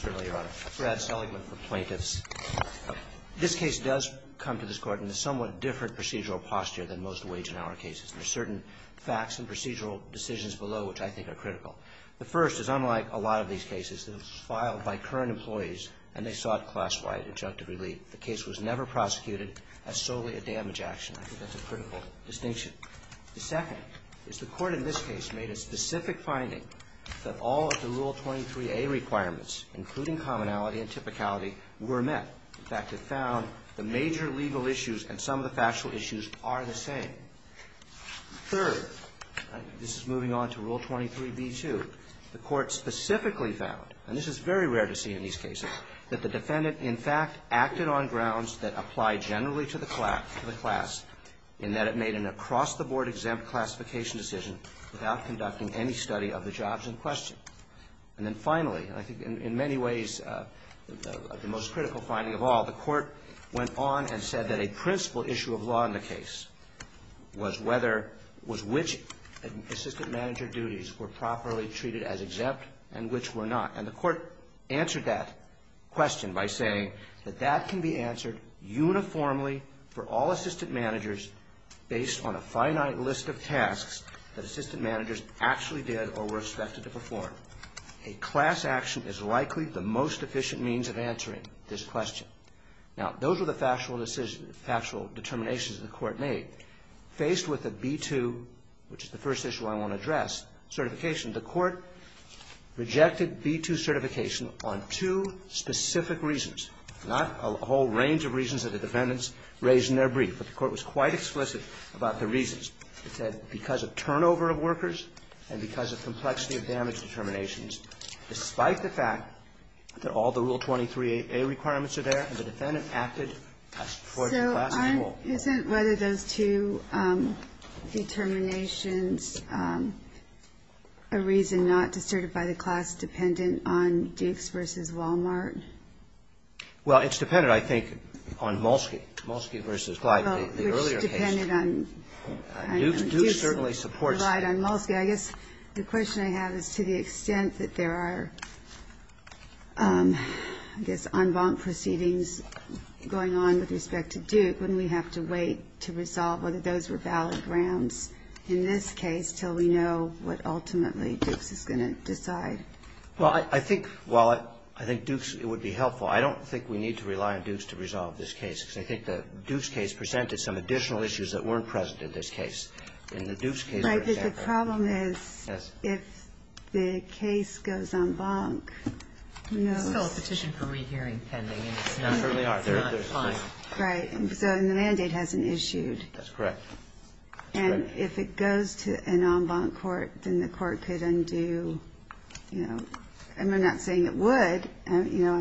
Certainly, Your Honor. Brad Seligman for Plaintiffs. This case does come to this Court in a somewhat different procedural posture than most Wage and Hour cases. There are certain facts and procedural decisions below which I think are critical. The first is unlike a lot of these cases that are filed by current employees and they sought class-wide adjunctive relief. The case was never prosecuted as solely a damage action. I think that's a critical distinction. The second is the Court in this case made a specific finding that all of the Rule 23a requirements, including commonality and typicality, were met. In fact, it found the major legal issues and some of the factual issues are the same. Third, this is moving on to Rule 23b-2, the Court specifically found, and this is very rare to see in these cases, that the defendant, in fact, acted on grounds that apply generally to the class in that it made an across-the-board exempt classification decision without conducting any study of the jobs in question. And then finally, and I think in many ways the most critical finding of all, the Court went on and said that a principal issue of law in the case was whether, was which assistant manager duties were properly treated as exempt and which were not. And the Court answered that question by saying that that can be answered uniformly for all assistant managers based on a finite list of tasks that assistant managers actually did or were expected to perform. A class action is likely the most efficient means of answering this question. Now, those are the factual determinations the Court made. Faced with the B-2, which is the first issue I want to address, certification, the Court rejected B-2 certification on two specific reasons, not a whole range of reasons that the defendants raised in their brief, but the Court was quite explicit about the reasons. It said because of turnover of workers and because of complexity of damage determinations, despite the fact that all the Rule 23a requirements are there, and the defendant acted for the class at all. So isn't whether those two determinations a reason not to certify the class dependent on Dukes v. Wal-Mart? Well, it's dependent, I think, on Molsky. Molsky v. Glide, the earlier case. Well, which depended on Dukes. Dukes certainly supports Glide on Molsky. I guess the question I have is to the extent that there are, I guess, en banc proceedings going on with respect to Duke, wouldn't we have to wait to resolve whether those were valid grounds in this case until we know what ultimately Dukes is going to decide? Well, I think while I think Dukes, it would be helpful, I don't think we need to rely on Dukes to resolve this case, because I think the Dukes case presented some additional issues that weren't present in this case. In the Dukes case, for example. Right. Because the problem is if the case goes en banc, who knows? It's still a petition for rehearing pending, and it's not final. It certainly is. Right. So the mandate hasn't issued. That's correct. And if it goes to an en banc court, then the court could undo, you know, I'm not saying it would, you know,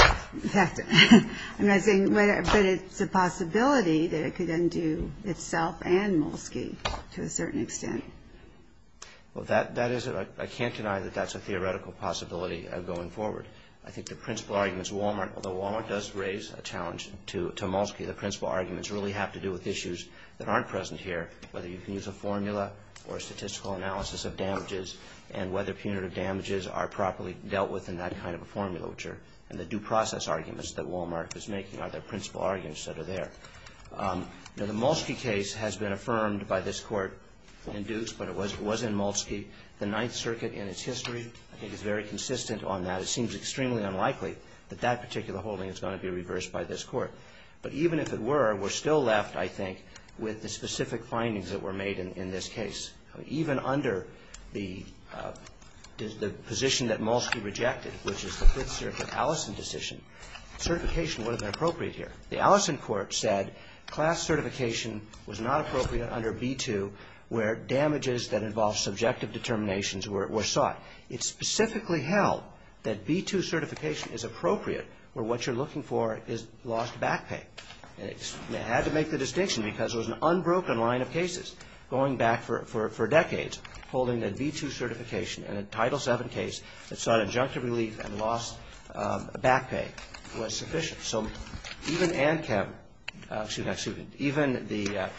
I'm not saying, but it's a possibility that it could undo itself and Molsky to a certain extent. Well, that is, I can't deny that that's a theoretical possibility going forward. I think the principal arguments, Wal-Mart, although Wal-Mart does raise a challenge to Molsky, the principal arguments really have to do with issues that aren't present here, whether you can use a formula or statistical analysis of damages, and whether punitive damages are properly dealt with in that kind of a formula, which are, and the due process arguments that Wal-Mart is making are the principal arguments that are there. Now, the Molsky case has been affirmed by this Court in Dukes, but it was in Molsky. The Ninth Circuit in its history, I think, is very consistent on that. It seems extremely unlikely that that particular holding is going to be reversed by this Court. But even if it were, we're still left, I think, with the specific findings that were made in this case. Even under the position that Molsky rejected, which is the Fifth Circuit Allison decision, certification would have been appropriate here. The Allison court said class certification was not appropriate under B-2 where damages that involve subjective determinations were sought. It specifically held that B-2 certification is appropriate where what you're looking for is lost back pay. And it had to make the distinction because it was an unbroken line of cases going back for decades holding that B-2 certification in a Title VII case that sought injunctive relief and lost back pay was sufficient. So even ANCAP, excuse me, excuse me, even the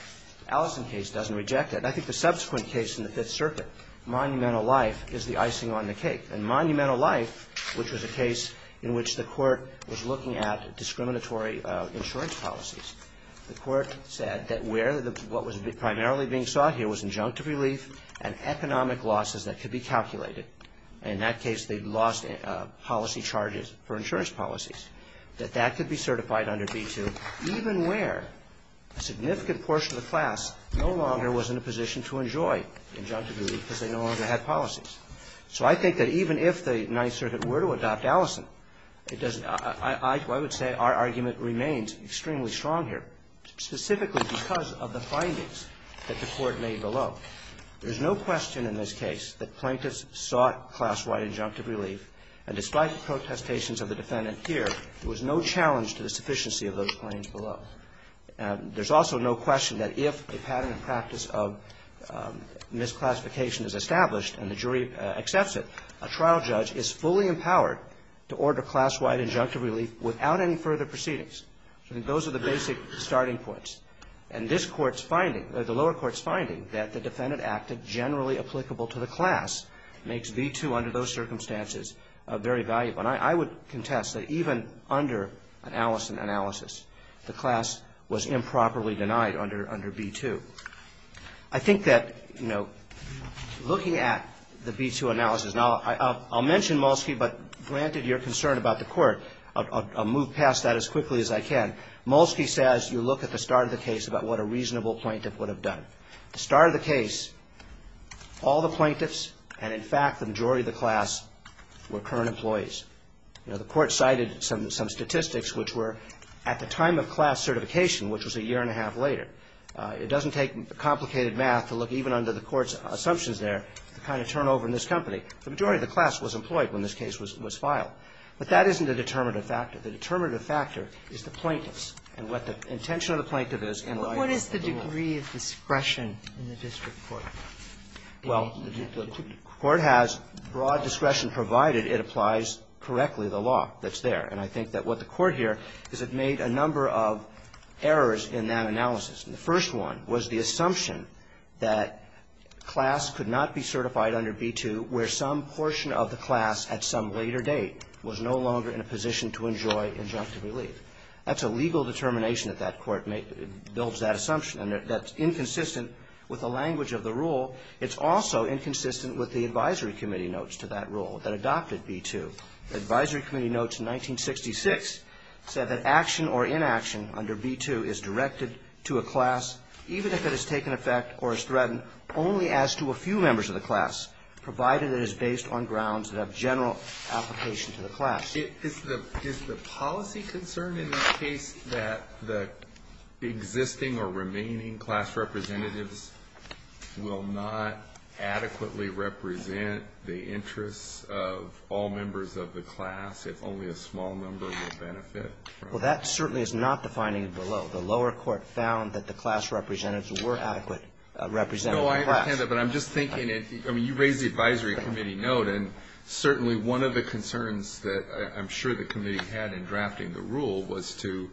Allison case doesn't reject it. And I think the subsequent case in the Fifth Circuit, Monumental Life, is the icing on the cake. And Monumental Life, which was a case in which the Court was looking at discriminatory insurance policies, the Court said that where the, what was primarily being sought here was injunctive relief and economic losses that could be calculated. And in that case, they lost policy charges for insurance policies, that that could be certified under B-2, even where a significant portion of the class no longer was in a position to enjoy injunctive relief because they no longer had policies. So I think that even if the Ninth Circuit were to adopt Allison, it doesn't, I would say our argument remains extremely strong here, specifically because of the findings that the Court made below. There's no question in this case that plaintiffs sought class-wide injunctive relief, and despite the protestations of the defendant here, there was no challenge to the sufficiency of those claims below. There's also no question that if a pattern and practice of misclassification is established and the jury accepts it, a trial judge is fully empowered to order class-wide injunctive relief without any further proceedings. So I think those are the basic starting points. And this Court's finding, the lower Court's finding, that the defendant acted generally applicable to the class makes B-2 under those circumstances very valuable. And I would contest that even under an Allison analysis, the class was improperly denied under B-2. I think that, you know, looking at the B-2 analysis, and I'll mention Molsky, but granted your concern about the Court, I'll move past that as quickly as I can. Molsky says you look at the start of the case about what a reasonable plaintiff would have done. The start of the case, all the plaintiffs and, in fact, the majority of the class were current employees. You know, the Court cited some statistics which were at the time of class certification, which was a year and a half later. It doesn't take complicated math to look even under the Court's assumptions there, the kind of turnover in this company. The majority of the class was employed when this case was filed. But that isn't a determinative factor. The determinative factor is the plaintiffs and what the intention of the plaintiff is in light of the rule. Ginsburg. What is the degree of discretion in the district court? Molsky. Well, the court has broad discretion provided it applies correctly the law that's there. And I think that what the Court here is it made a number of errors in that analysis. The first one was the assumption that class could not be certified under B-2 where some portion of the class at some later date was no longer in a position to enjoy injunctive relief. That's a legal determination that that court made. It builds that assumption. And that's inconsistent with the language of the rule. It's also inconsistent with the advisory committee notes to that rule that adopted B-2. The advisory committee notes in 1966 said that action or inaction under B-2 is directed to a class even if it has taken effect or is threatened only as to a few members of the class, provided it is based on grounds of general application to the class. Is the policy concern in this case that the existing or remaining class representatives will not adequately represent the interests of all members of the class if only a small number will benefit? Well, that certainly is not the finding below. The lower court found that the class representatives were adequate representatives of the class. No, I understand that. But I'm just thinking, I mean, you raised the advisory committee note, and certainly one of the concerns that I'm sure the committee had in drafting the rule was to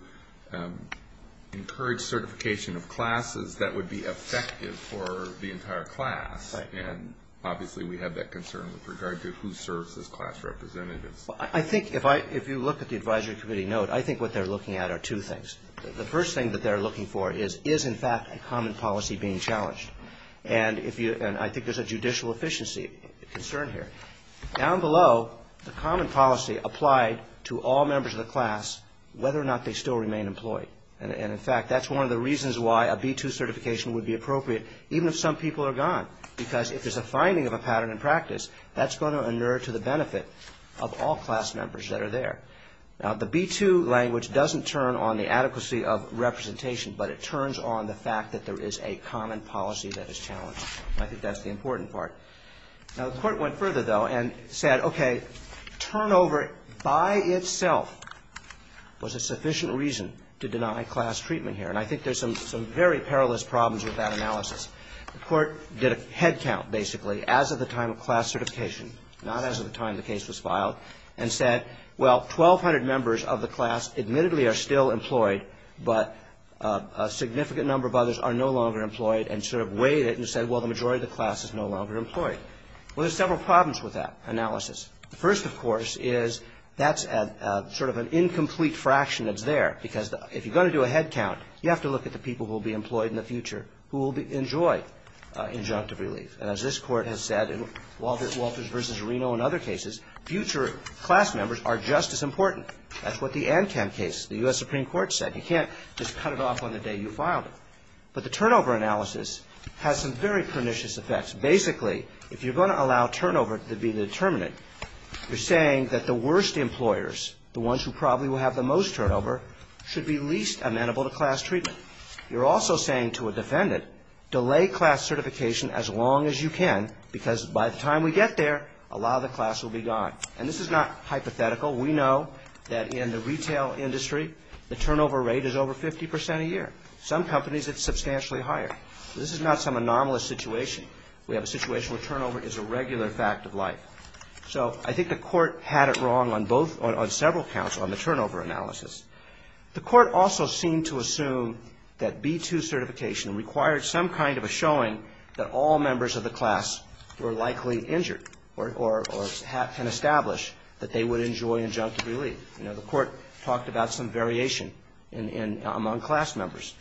encourage certification of classes that would be effective for the entire class. Right. And obviously we have that concern with regard to who serves as class representatives. Well, I think if you look at the advisory committee note, I think what they're looking at are two things. The first thing that they're looking for is, is in fact a common policy being challenged. And I think there's a judicial efficiency concern here. Down below, the common policy applied to all members of the class, whether or not they still remain employed. And in fact, that's one of the reasons why a B-2 certification would be appropriate, even if some people are gone, because if there's a finding of a pattern in practice, that's going to inure to the benefit of all class members that are there. Now, the B-2 language doesn't turn on the adequacy of representation, but it turns on the fact that there is a common policy that is challenged. I think that's the important part. Now, the Court went further, though, and said, okay, turnover by itself was a sufficient reason to deny class treatment here. And I think there's some very perilous problems with that analysis. The Court did a head count, basically, as of the time of class certification, not as of the time the case was filed, and said, well, 1,200 members of the class admittedly are still employed, but a significant number of others are no longer employed, and sort of weighed it and said, well, the majority of the class is no longer employed. Well, there's several problems with that analysis. The first, of course, is that's sort of an incomplete fraction that's there, because if you're going to do a head count, you have to look at the people who will be employed in the future, who will enjoy injunctive relief. And as this Court has said in Walters v. Reno and other cases, future class members are just as important. That's what the ANCAM case, the U.S. Supreme Court, said. You can't just cut it off on the day you filed it. But the turnover analysis has some very pernicious effects. Basically, if you're going to allow turnover to be the determinant, you're saying that the worst employers, the ones who probably will have the most turnover, should be least amenable to class treatment. You're also saying to a defendant, delay class certification as long as you can, because by the time we get there, a lot of the class will be gone. And this is not hypothetical. We know that in the retail industry, the turnover rate is over 50 percent a year. Some companies, it's substantially higher. This is not some anomalous situation. We have a situation where turnover is a regular fact of life. So I think the Court had it wrong on both or on several counts on the turnover analysis. The Court also seemed to assume that B-2 certification required some kind of a showing that all members of the class were likely injured or can establish that they would enjoy injunctive relief. You know, the Court talked about some variation among class members.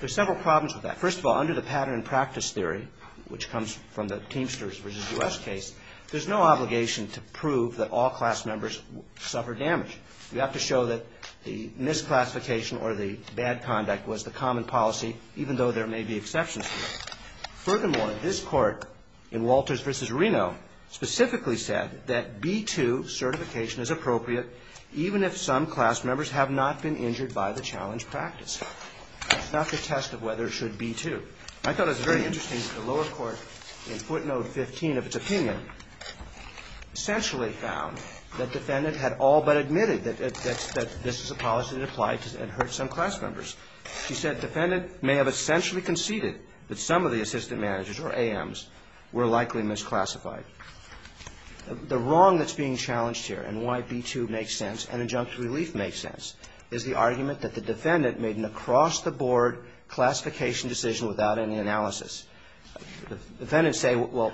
There are several problems with that. First of all, under the pattern and practice theory, which comes from the Teamsters v. U.S. case, there's no obligation to prove that all class members suffered damage. You have to show that the misclassification or the bad conduct was the common policy, even though there may be exceptions to it. Furthermore, this Court in Walters v. Reno specifically said that B-2 certification is appropriate even if some class members have not been injured by the challenge practice. It's not the test of whether it should be, too. I thought it was very interesting that the lower court in footnote 15 of its opinion essentially found that defendant had all but admitted that this is a policy that applied and hurt some class members. She said defendant may have essentially conceded that some of the assistant managers or AMs were likely misclassified. The wrong that's being challenged here and why B-2 makes sense and injunctive relief makes sense is the argument that the defendant made an across-the-board classification decision without any analysis. Defendants say, well,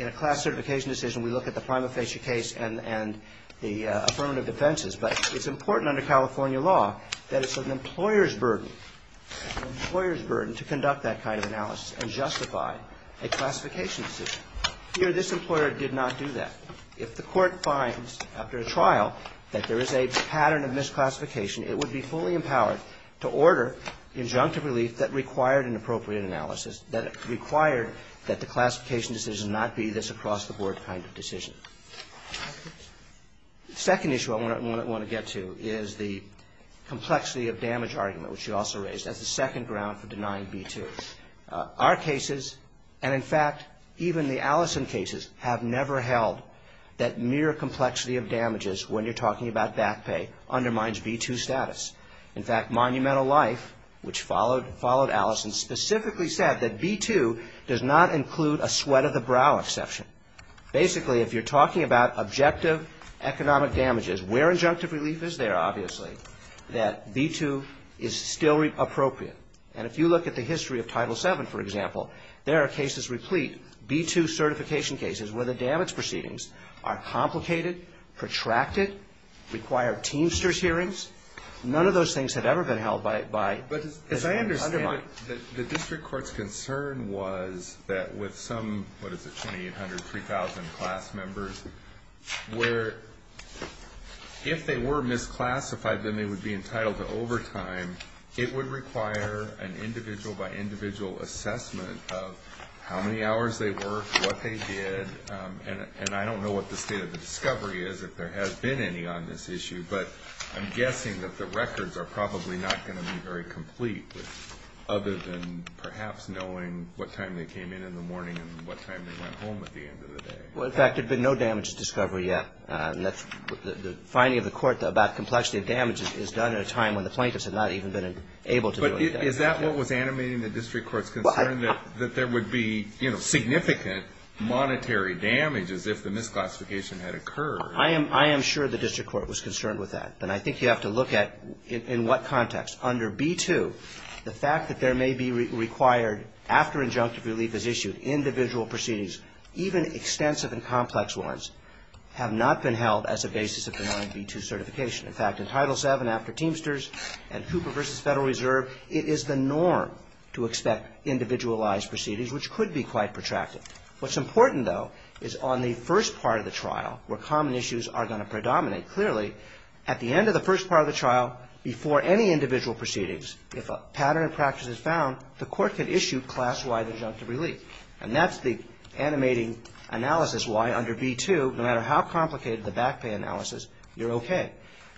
in a class certification decision, we look at the prima facie case and the affirmative defenses. But it's important under California law that it's an employer's burden, an employer's burden to conduct that kind of analysis and justify a classification decision. Here, this employer did not do that. If the Court finds after a trial that there is a pattern of misclassification, it would be fully empowered to order injunctive relief that required an appropriate analysis, that required that the classification decision not be this across-the-board kind of decision. The second issue I want to get to is the complexity of damage argument, which you also raised, as the second ground for denying B-2. Our cases and, in fact, even the Allison cases have never held that mere complexity of damages when you're talking about back pay undermines B-2 status. In fact, Monumental Life, which followed Allison, specifically said that B-2 does not include a sweat-of-the-brow exception. Basically, if you're talking about objective economic damages, where injunctive relief is there, obviously, that B-2 is still appropriate. And if you look at the history of Title VII, for example, there are cases replete, B-2 certification cases, where the damage proceedings are complicated, protracted, require teamsters hearings. None of those things have ever been held by undermining. But as I understand it, the district court's concern was that with some, what is it, 2,800, 3,000 class members, where if they were misclassified, then they would be entitled to overtime, it would require an individual-by-individual assessment of how many hours they worked, what they did, and I don't know what the state of the discovery is, if there has been any on this issue, but I'm guessing that the records are probably not going to be very complete, other than perhaps knowing what time they came in in the morning and what time they went home at the end of the day. Well, in fact, there's been no damages discovery yet. The finding of the court about complexity of damages is done at a time when the plaintiffs have not even been able to do any damage. But is that what was animating the district court's concern, that there would be, you know, significant monetary damages if the misclassification had occurred? I am sure the district court was concerned with that. And I think you have to look at in what context. Under B-2, the fact that there may be required, after injunctive relief is issued, individual proceedings, even extensive and complex ones, have not been held as a basis of the non-B-2 certification. In fact, in Title VII after Teamsters and Cooper v. Federal Reserve, it is the norm to expect individualized proceedings, which could be quite protracted. What's important, though, is on the first part of the trial, where common issues are going to predominate clearly, at the end of the first part of the trial, before any individual proceedings, if a pattern of practice is found, the court can issue class-wide injunctive relief. And that's the animating analysis why under B-2, no matter how complicated the back pay analysis, you're okay.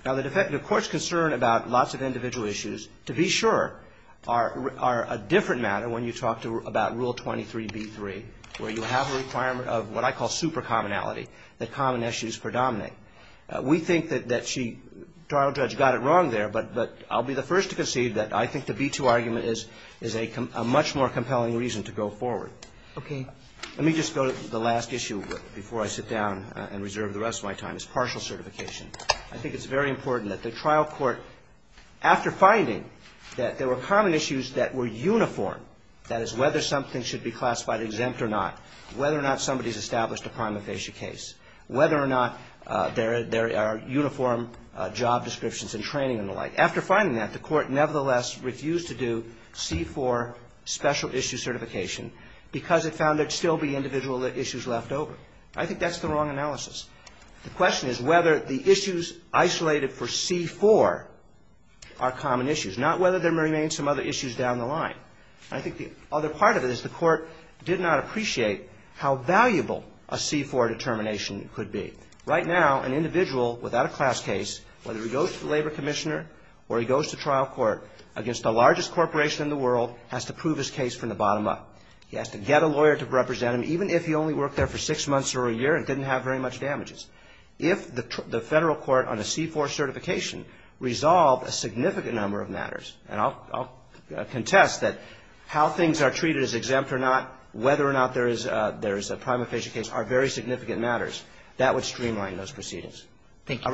Now, the defective court's concern about lots of individual issues, to be sure, are a different matter when you talk about Rule 23b-3, where you have a requirement of what I call super commonality, that common issues predominate. We think that she, trial judge, got it wrong there, but I'll be the first to concede that I think the B-2 argument is a much more compelling reason to go forward. Okay. Let me just go to the last issue before I sit down and reserve the rest of my time, is partial certification. I think it's very important that the trial court, after finding that there were common issues that were uniform, that is, whether something should be classified exempt or not, whether or not somebody's established a prima facie case, whether or not there are uniform job descriptions and training and the like. After finding that, the court nevertheless refused to do C-4 special issue certification because it found there'd still be individual issues left over. I think that's the wrong analysis. The question is whether the issues isolated for C-4 are common issues, not whether there remain some other issues down the line. I think the other part of it is the court did not appreciate how valuable a C-4 determination could be. Right now, an individual without a class case, whether he goes to the labor commissioner or he goes to trial court, against the largest corporation in the world, has to prove his case from the bottom up. He has to get a lawyer to represent him, even if he only worked there for six months or a year and didn't have very much damages. If the Federal court on a C-4 certification resolved a significant number of matters and I'll contest that how things are treated as exempt or not, whether or not there is a prima facie case are very significant matters, that would streamline those proceedings. Thank you.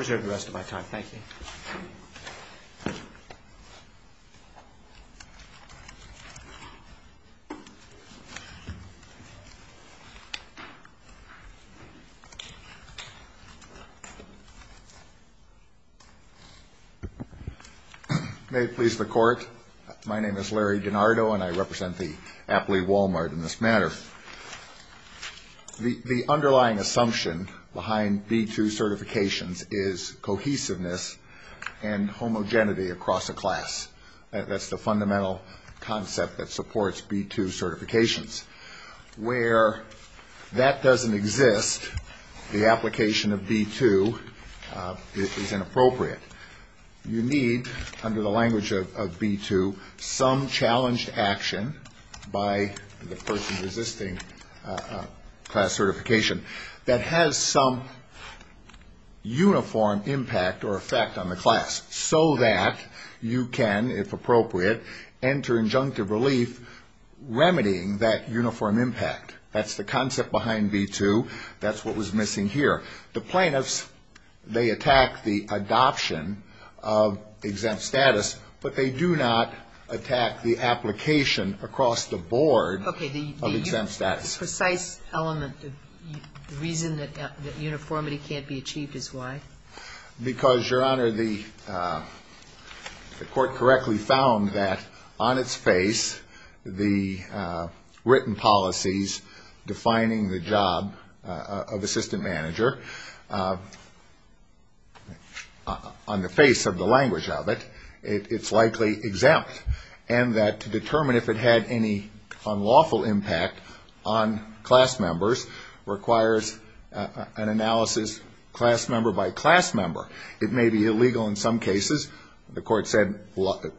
May it please the Court. My name is Larry DiNardo, and I represent the aptly Walmart in this matter. The underlying assumption behind B-2 certifications is cohesiveness and homogeneity across a class. That's the fundamental concept that supports B-2 certifications. Where that doesn't exist, the application of B-2 is inappropriate. You need, under the language of B-2, some challenged action by the person resisting class certification that has some uniform impact or effect on the class so that you can, if appropriate, enter injunctive relief remedying that uniform impact. That's the concept behind B-2. That's what was missing here. The plaintiffs, they attack the adoption of exempt status, but they do not attack the application across the board of exempt status. Okay. The precise element, the reason that uniformity can't be achieved is why? Because, Your Honor, the Court correctly found that on its face, the written policies defining the job of assistant manager, on the face of the language of it, it's likely exempt, and that to determine if it had any unlawful impact on class members requires an analysis class member by class member. It may be illegal in some cases. The Court said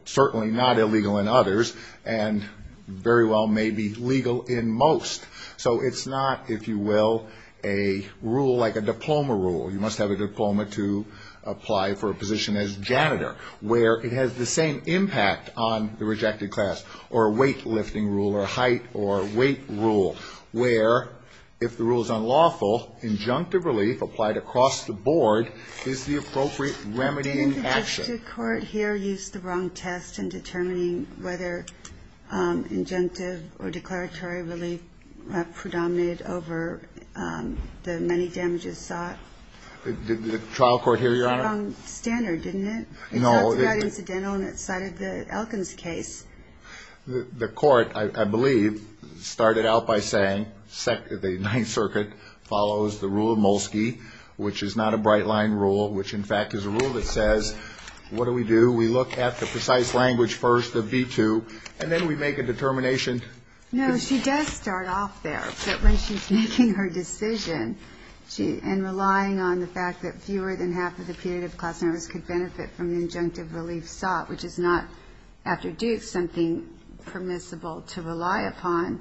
certainly not illegal in others, and very well may be legal in most. So it's not, if you will, a rule like a diploma rule. You must have a diploma to apply for a position as janitor, where it has the same impact on the rejected class, or a weightlifting rule or height or weight rule, where if the rule is unlawful, injunctive relief applied across the board is the appropriate remedying action. Didn't the district court here use the wrong test in determining whether injunctive or declaratory relief predominated over the many damages sought? Did the trial court here, Your Honor? It was the wrong standard, didn't it? No. It's not to that incidental, and it cited the Elkins case. The Court, I believe, started out by saying the Ninth Circuit follows the rule of Molsky, which is not a bright-line rule, which, in fact, is a rule that says, what do we do? We look at the precise language first of B-2, and then we make a determination. No. She does start off there, but when she's making her decision and relying on the fact that fewer than half of the punitive class members could benefit from the injunctive relief sought, which is not, after Duke, something permissible to rely upon,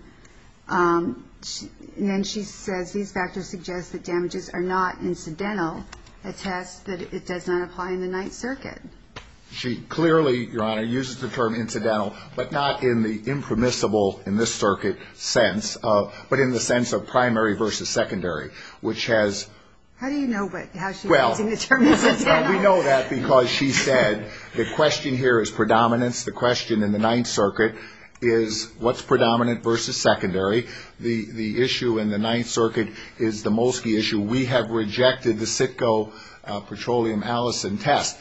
then she says these factors suggest that damages are not incidental, a test that it does not apply in the Ninth Circuit. She clearly, Your Honor, uses the term incidental, but not in the impermissible in this circuit sense, but in the sense of primary versus secondary, which has – How do you know how she's using the term incidental? Well, we know that because she said the question here is predominance. The question in the Ninth Circuit is what's predominant versus secondary. The issue in the Ninth Circuit is the Molsky issue. We have rejected the Sitco petroleum allicin test.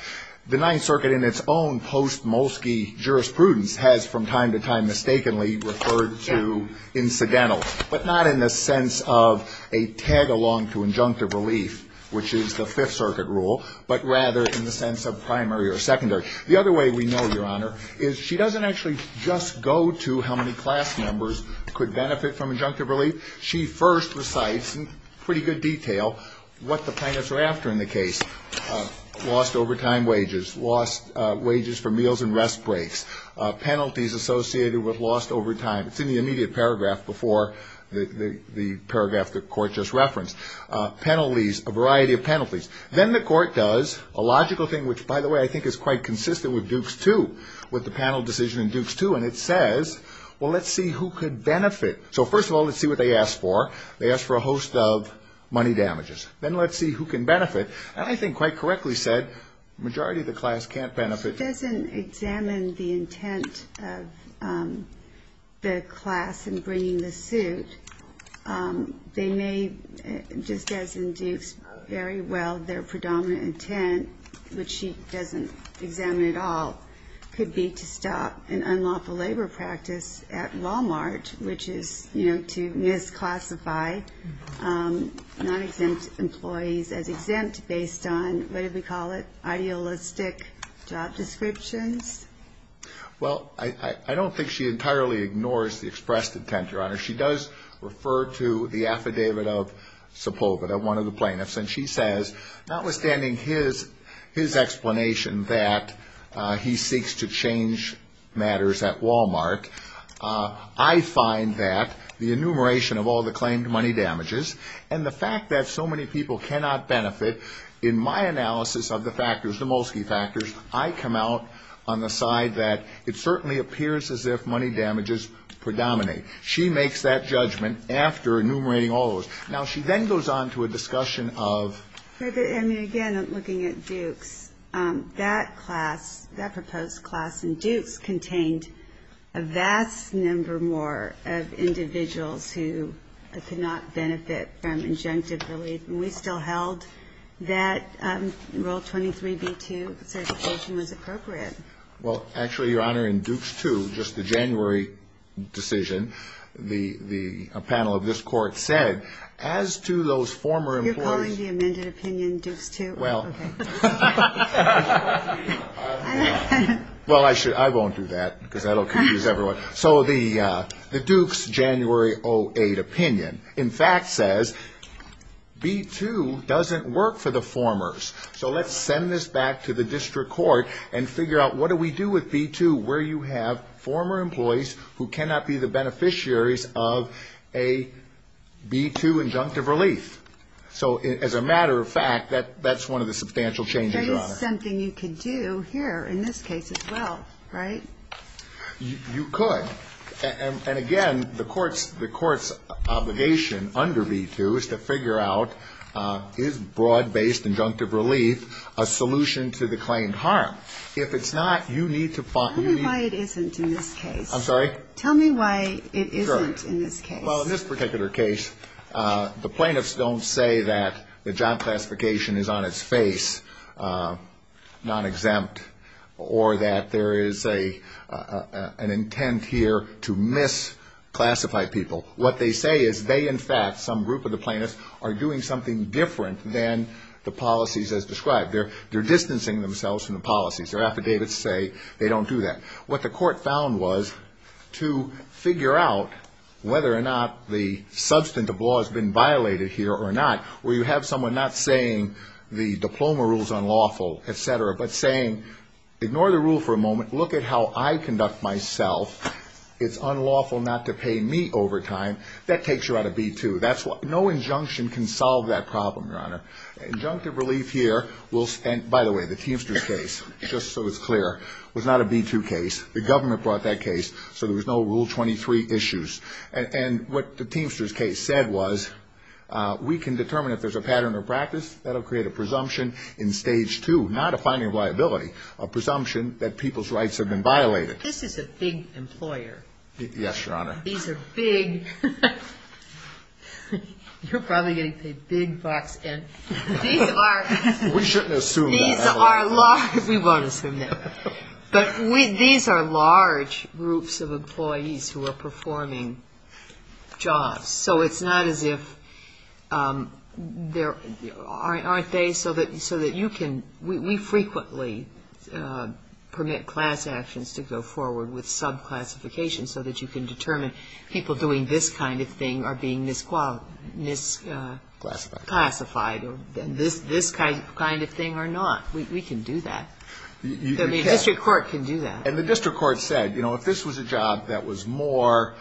The Ninth Circuit, in its own post-Molsky jurisprudence, has from time to time mistakenly referred to incidental, but not in the sense of a tag-along to injunctive relief, which is the Fifth Circuit rule, but rather in the sense of primary or secondary. The other way we know, Your Honor, is she doesn't actually just go to how many class members could benefit from injunctive relief. She first recites in pretty good detail what the plaintiffs are after in the case, lost overtime wages, lost wages for meals and rest breaks, penalties associated with lost overtime. It's in the immediate paragraph before the paragraph the court just referenced. Penalties, a variety of penalties. Then the court does a logical thing, which, by the way, I think is quite consistent with Dukes II, with the panel decision in Dukes II, and it says, well, let's see who could benefit. So first of all, let's see what they ask for. They ask for a host of money damages. Then let's see who can benefit. And I think quite correctly said, majority of the class can't benefit. If she doesn't examine the intent of the class in bringing the suit, they may, just as in Dukes, very well, their predominant intent, which she doesn't examine at all, could be to stop and unlawful labor practice at Walmart, which is, you know, to misclassify non-exempt employees as exempt based on, what did we call it, idealistic job descriptions. Well, I don't think she entirely ignores the expressed intent, Your Honor. She does refer to the affidavit of Sepulveda, one of the plaintiffs, and she says, notwithstanding his explanation that he seeks to change matters at Walmart, I find that the enumeration of all the claimed money damages and the fact that so many people cannot benefit, in my analysis of the factors, the Molsky factors, I come out on the side that it certainly appears as if money damages predominate. She makes that judgment after enumerating all of those. Now, she then goes on to a discussion of ---- of individuals who could not benefit from injunctive relief, and we still held that Rule 23b-2 certification was appropriate. Well, actually, Your Honor, in Dukes 2, just the January decision, a panel of this Court said, as to those former employees ---- You're calling the amended opinion Dukes 2? Well, I won't do that because that will confuse everyone. So the Dukes January 08 opinion, in fact, says B-2 doesn't work for the formers. So let's send this back to the district court and figure out what do we do with B-2 where you have former employees who cannot be the beneficiaries of a B-2 injunctive relief. So as a matter of fact, that's one of the substantial changes, Your Honor. There is something you could do here in this case as well, right? You could. And again, the Court's obligation under B-2 is to figure out, is broad-based injunctive relief a solution to the claimed harm? If it's not, you need to find ---- Tell me why it isn't in this case. I'm sorry? Tell me why it isn't in this case. Sure. Well, in this particular case, the plaintiffs don't say that the job classification is on its face, non-exempt, or that there is an intent here to misclassify people. What they say is they, in fact, some group of the plaintiffs, are doing something different than the policies as described. They're distancing themselves from the policies. Their affidavits say they don't do that. What the Court found was to figure out whether or not the substantive law has been violated here or not, where you have someone not saying the diploma rule is unlawful, et cetera, but saying, ignore the rule for a moment, look at how I conduct myself. It's unlawful not to pay me overtime. That takes you out of B-2. No injunction can solve that problem, Your Honor. Injunctive relief here will ---- And by the way, the Teamsters case, just so it's clear, was not a B-2 case. The government brought that case, so there was no Rule 23 issues. And what the Teamsters case said was we can determine if there's a pattern of practice. That will create a presumption in Stage 2, not a finding of liability, a presumption that people's rights have been violated. This is a big employer. Yes, Your Honor. These are big. You're probably getting paid big bucks. And these are ---- We shouldn't assume that. These are large. We won't assume that. But these are large groups of employees who are performing jobs. So it's not as if there aren't days so that you can ---- we frequently permit class actions to go forward with subclassifications so that you can determine people doing this kind of thing are being misclassified or this kind of thing are not. We can do that. The district court can do that. And the district court said, you know, if this was a job that was more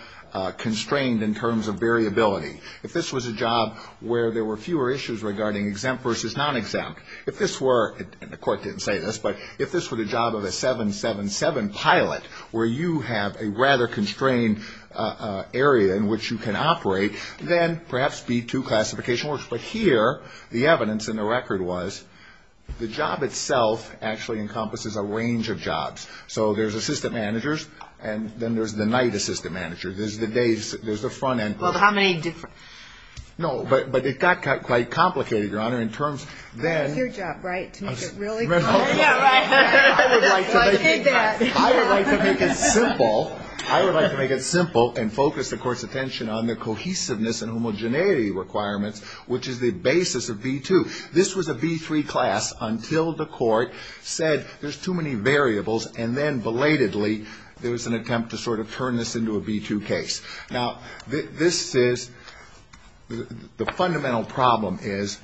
constrained in terms of variability, if this was a job where there were fewer issues regarding exempt versus non-exempt, if this were, and the court didn't say this, but if this were the job of a 777 pilot where you have a rather constrained area in which you can operate, then perhaps B-2 classification works. But here the evidence in the record was the job itself actually encompasses a range of jobs. So there's assistant managers, and then there's the night assistant manager. There's the days. There's the front end. Well, how many different? No, but it got quite complicated, Your Honor, in terms then ---- That's your job, right, to make it really complicated? Yeah, right. I would like to make it simple. I would like to make it simple and focus the court's attention on the cohesiveness and homogeneity requirements, which is the basis of B-2. This was a B-3 class until the court said there's too many variables, and then belatedly there was an attempt to sort of turn this into a B-2 case. Now, this is the fundamental problem is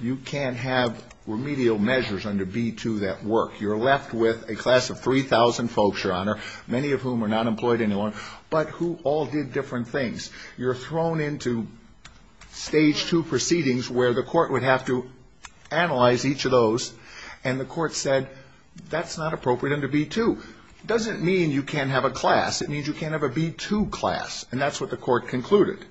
you can't have remedial measures under B-2 that work. You're left with a class of 3,000 folks, Your Honor, many of whom are not employed anymore, but who all did different things. You're thrown into stage 2 proceedings where the court would have to analyze each of those, and the court said that's not appropriate under B-2. It doesn't mean you can't have a class. It means you can't have a B-2 class, and that's what the court concluded.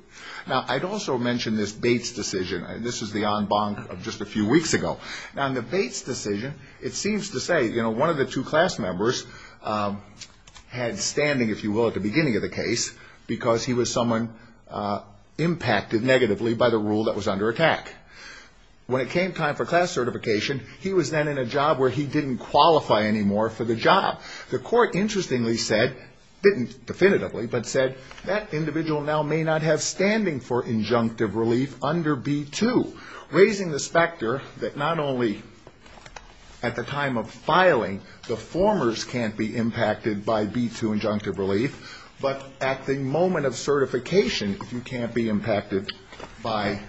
Now, I'd also mention this Bates decision. This is the en banc of just a few weeks ago. Now, in the Bates decision, it seems to say, you know, one of the two class members had standing, if you will, at the beginning of the case because he was someone impacted negatively by the rule that was under attack. When it came time for class certification, he was then in a job where he didn't qualify anymore for the job. The court interestingly said, didn't definitively, but said that individual now may not have standing for injunctive relief under B-2, raising the specter that not only at the time of filing the formers can't be impacted by B-2 injunctive relief, but at the moment of certification, if you can't be impacted by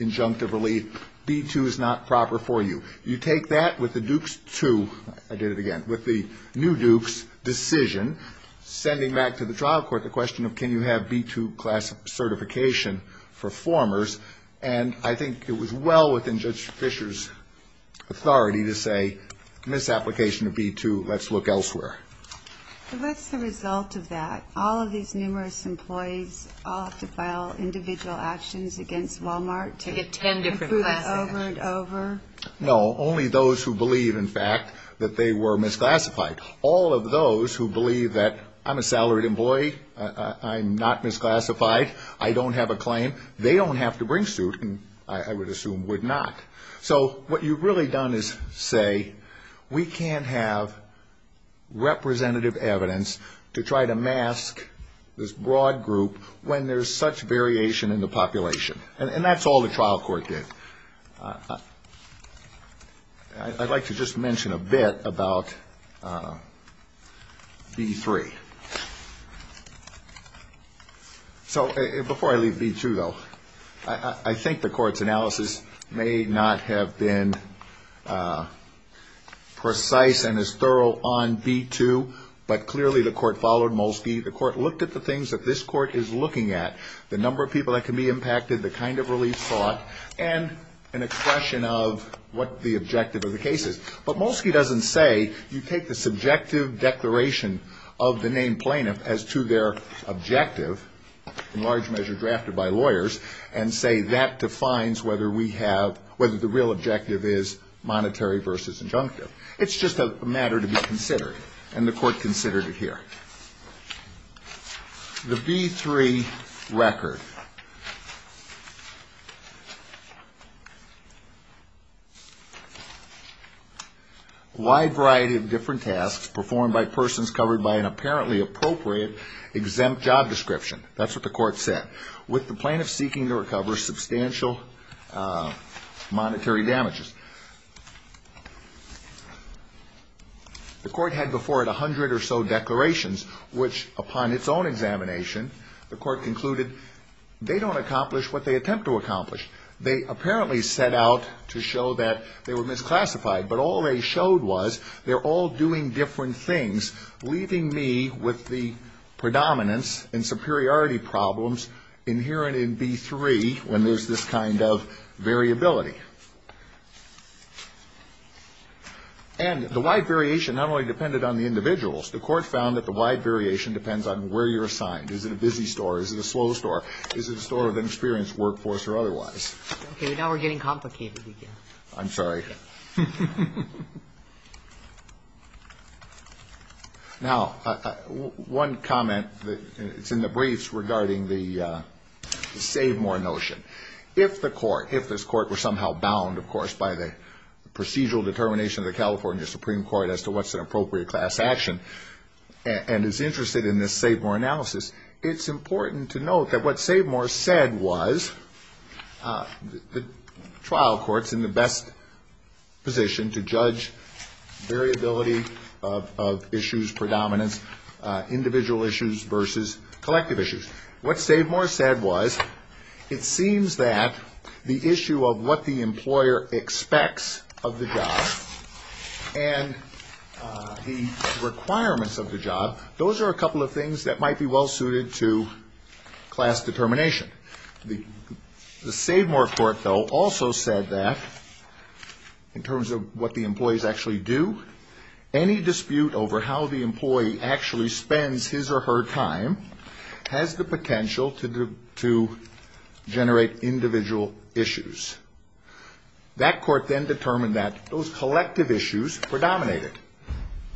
injunctive relief, B-2 is not proper for you. You take that with the Dukes II, I did it again, with the new Dukes decision, sending back to the trial court the question of can you have B-2 class certification for formers, and I think it was well within Judge Fisher's authority to say, in this application of B-2, let's look elsewhere. So what's the result of that? All of these numerous employees all have to file individual actions against Walmart to improve it over and over? No, only those who believe, in fact, that they were misclassified. All of those who believe that I'm a salaried employee, I'm not misclassified, I don't have a claim, they don't have to bring suit, and I would assume would not. So what you've really done is say we can't have representative evidence to try to mask this broad group when there's such variation in the population, and that's all the trial court did. I'd like to just mention a bit about B-3. So before I leave B-2, though, I think the court's analysis may not have been precise and as thorough on B-2, but clearly the court followed Molsky, the court looked at the things that this court is looking at, the number of people that can be impacted, the kind of relief sought, and an expression of what the objective of the case is. But Molsky doesn't say you take the subjective declaration of the named plaintiff as to their objective, in large measure drafted by lawyers, and say that defines whether we have, whether the real objective is monetary versus injunctive. It's just a matter to be considered, and the court considered it here. The B-3 record. A wide variety of different tasks performed by persons covered by an apparently appropriate exempt job description. That's what the court said. With the plaintiff seeking to recover substantial monetary damages. The court had before it 100 or so declarations, which upon its own examination, the court concluded they don't accomplish what they attempt to accomplish. They apparently set out to show that they were misclassified, but all they showed was they're all doing different things, leaving me with the predominance and superiority problems inherent in B-3 when there's this kind of variability. And the wide variation not only depended on the individuals. The court found that the wide variation depends on where you're assigned. Is it a busy store? Is it a slow store? Is it a store with an experienced workforce or otherwise? Okay. Now we're getting complicated again. I'm sorry. Now, one comment that's in the briefs regarding the save more notion. If the court, if this court were somehow bound, of course, by the procedural determination of the California Supreme Court as to what's an appropriate class action and is interested in this save more analysis, it's important to note that what save more said was the trial court's in the best position to judge variability of issues, predominance, individual issues versus collective issues. What save more said was it seems that the issue of what the employer expects of the job and the requirements of the job, those are a couple of things that might be well suited to class determination. The save more court, though, also said that in terms of what the employees actually do, any dispute over how the employee actually spends his or her time has the potential to generate individual issues. That court then determined that those collective issues predominated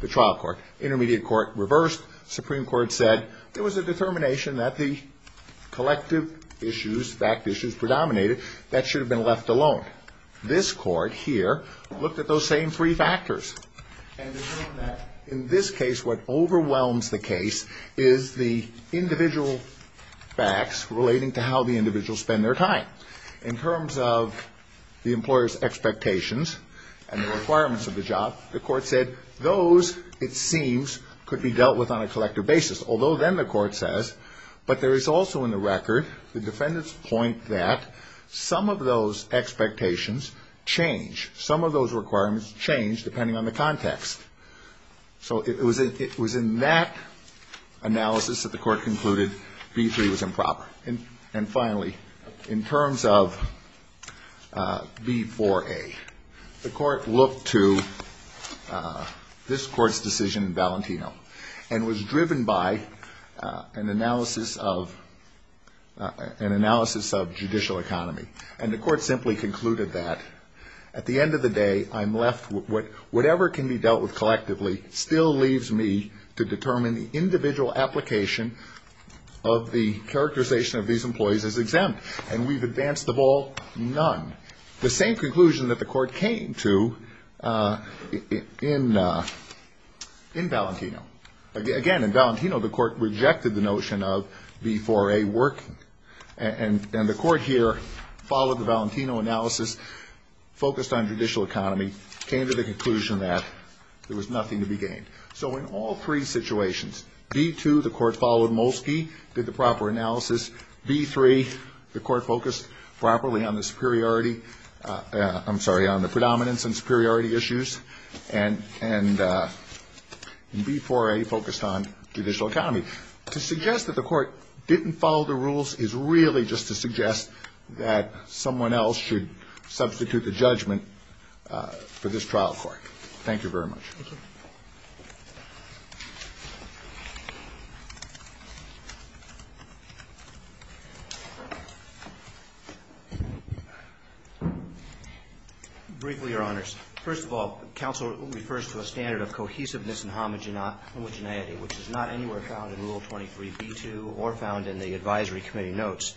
the trial court. Intermediate court reversed. Supreme Court said there was a determination that the collective issues, fact issues, predominated that should have been left alone. But this court here looked at those same three factors. And in this case, what overwhelms the case is the individual facts relating to how the individuals spend their time. In terms of the employer's expectations and the requirements of the job, the court said those, it seems, could be dealt with on a collective basis, although then the court says, but there is also in the record, the defendant's point that some of those expectations change. Some of those requirements change depending on the context. So it was in that analysis that the court concluded B-3 was improper. And finally, in terms of B-4A, the court looked to this court's decision in Valentino and was driven by an analysis of judicial economy. And the court simply concluded that at the end of the day, I'm left with whatever can be dealt with collectively still leaves me to determine the individual application of the characterization of these employees as exempt. And we've advanced the ball none. The same conclusion that the court came to in Valentino. Again, in Valentino, the court rejected the notion of B-4A working. And the court here followed the Valentino analysis, focused on judicial economy, came to the conclusion that there was nothing to be gained. So in all three situations, B-2, the court followed Molsky, did the proper analysis. B-3, the court focused properly on the superiority, I'm sorry, on the predominance and superiority issues. And B-4A focused on judicial economy. To suggest that the court didn't follow the rules is really just to suggest that someone else should substitute the judgment for this trial court. Thank you very much. Thank you. Briefly, Your Honors. First of all, counsel refers to a standard of cohesiveness and homogeneity, which is not anywhere found in Rule 23B-2 or found in the advisory committee notes.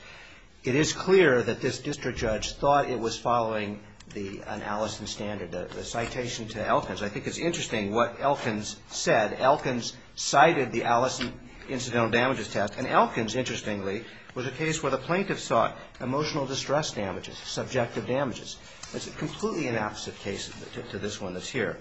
It is clear that this district judge thought it was following the analysis standard. The citation to Elkins, I think it's interesting what Elkins said. Elkins cited the Allison incidental damages test. And Elkins, interestingly, was a case where the plaintiff sought emotional distress damages, subjective damages. It's a completely inopposite case to this one that's here.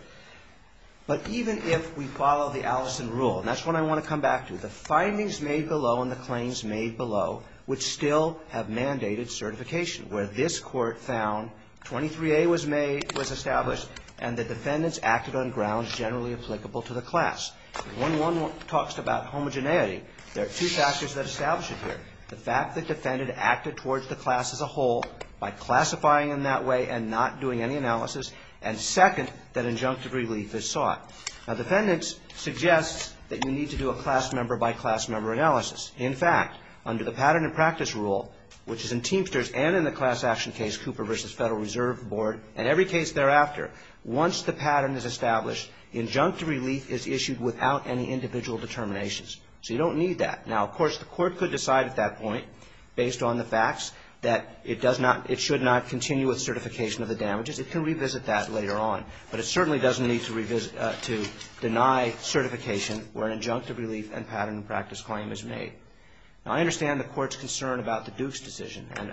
But even if we follow the Allison rule, and that's what I want to come back to, the findings made below and the claims made below would still have mandated certification. Where this court found 23A was established and the defendants acted on grounds generally applicable to the class. When one talks about homogeneity, there are two factors that establish it here. The fact that defendant acted towards the class as a whole by classifying in that way and not doing any analysis. And second, that injunctive relief is sought. Now defendants suggest that you need to do a class member by class member analysis. In fact, under the pattern and practice rule, which is in Teamsters and in the class action case, Cooper v. Federal Reserve Board, and every case thereafter, once the pattern is established, injunctive relief is issued without any individual determinations. So you don't need that. Now, of course, the court could decide at that point, based on the facts, that it does not, it should not continue with certification of the damages. It can revisit that later on. But it certainly doesn't need to revisit, to deny certification where an injunctive relief and pattern and practice claim is made. Now, I understand the court's concern about the Dukes decision. And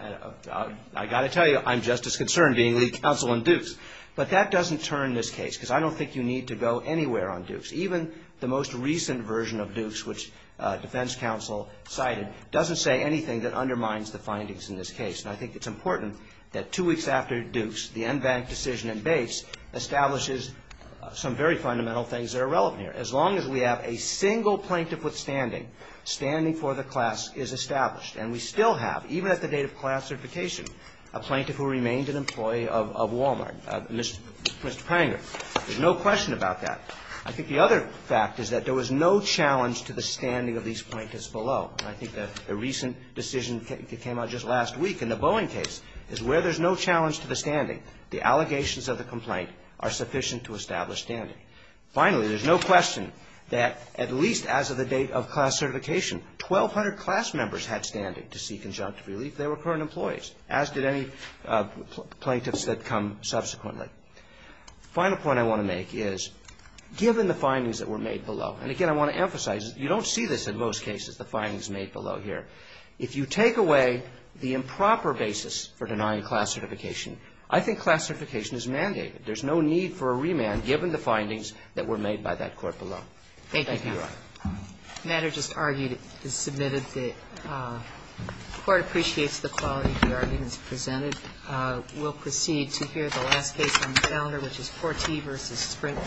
I've got to tell you, I'm just as concerned being lead counsel in Dukes. But that doesn't turn this case, because I don't think you need to go anywhere on Dukes. Even the most recent version of Dukes, which defense counsel cited, doesn't say anything that undermines the findings in this case. And I think it's important that two weeks after Dukes, the en banc decision in Bates establishes some very fundamental things that are relevant here. As long as we have a single plaintiff withstanding, standing for the class is established. And we still have, even at the date of class certification, a plaintiff who remains an employee of Wal-Mart, Mr. Pranger. There's no question about that. I think the other fact is that there was no challenge to the standing of these plaintiffs below. And I think the recent decision that came out just last week in the Boeing case is where there's no challenge to the standing, the allegations of the complaint are sufficient to establish standing. Finally, there's no question that, at least as of the date of class certification, 1,200 class members had standing to seek injunctive relief. They were current employees, as did any plaintiffs that come subsequently. The final point I want to make is, given the findings that were made below, and again, I want to emphasize, you don't see this in most cases, the findings made below here. If you take away the improper basis for denying class certification, I think class certification is mandated. There's no need for a remand given the findings that were made by that court below. Thank you, Your Honor. Thank you. The matter just argued is submitted. The Court appreciates the quality of the arguments presented. We'll proceed to hear the last case on the calendar, which is Forti v. Sprint.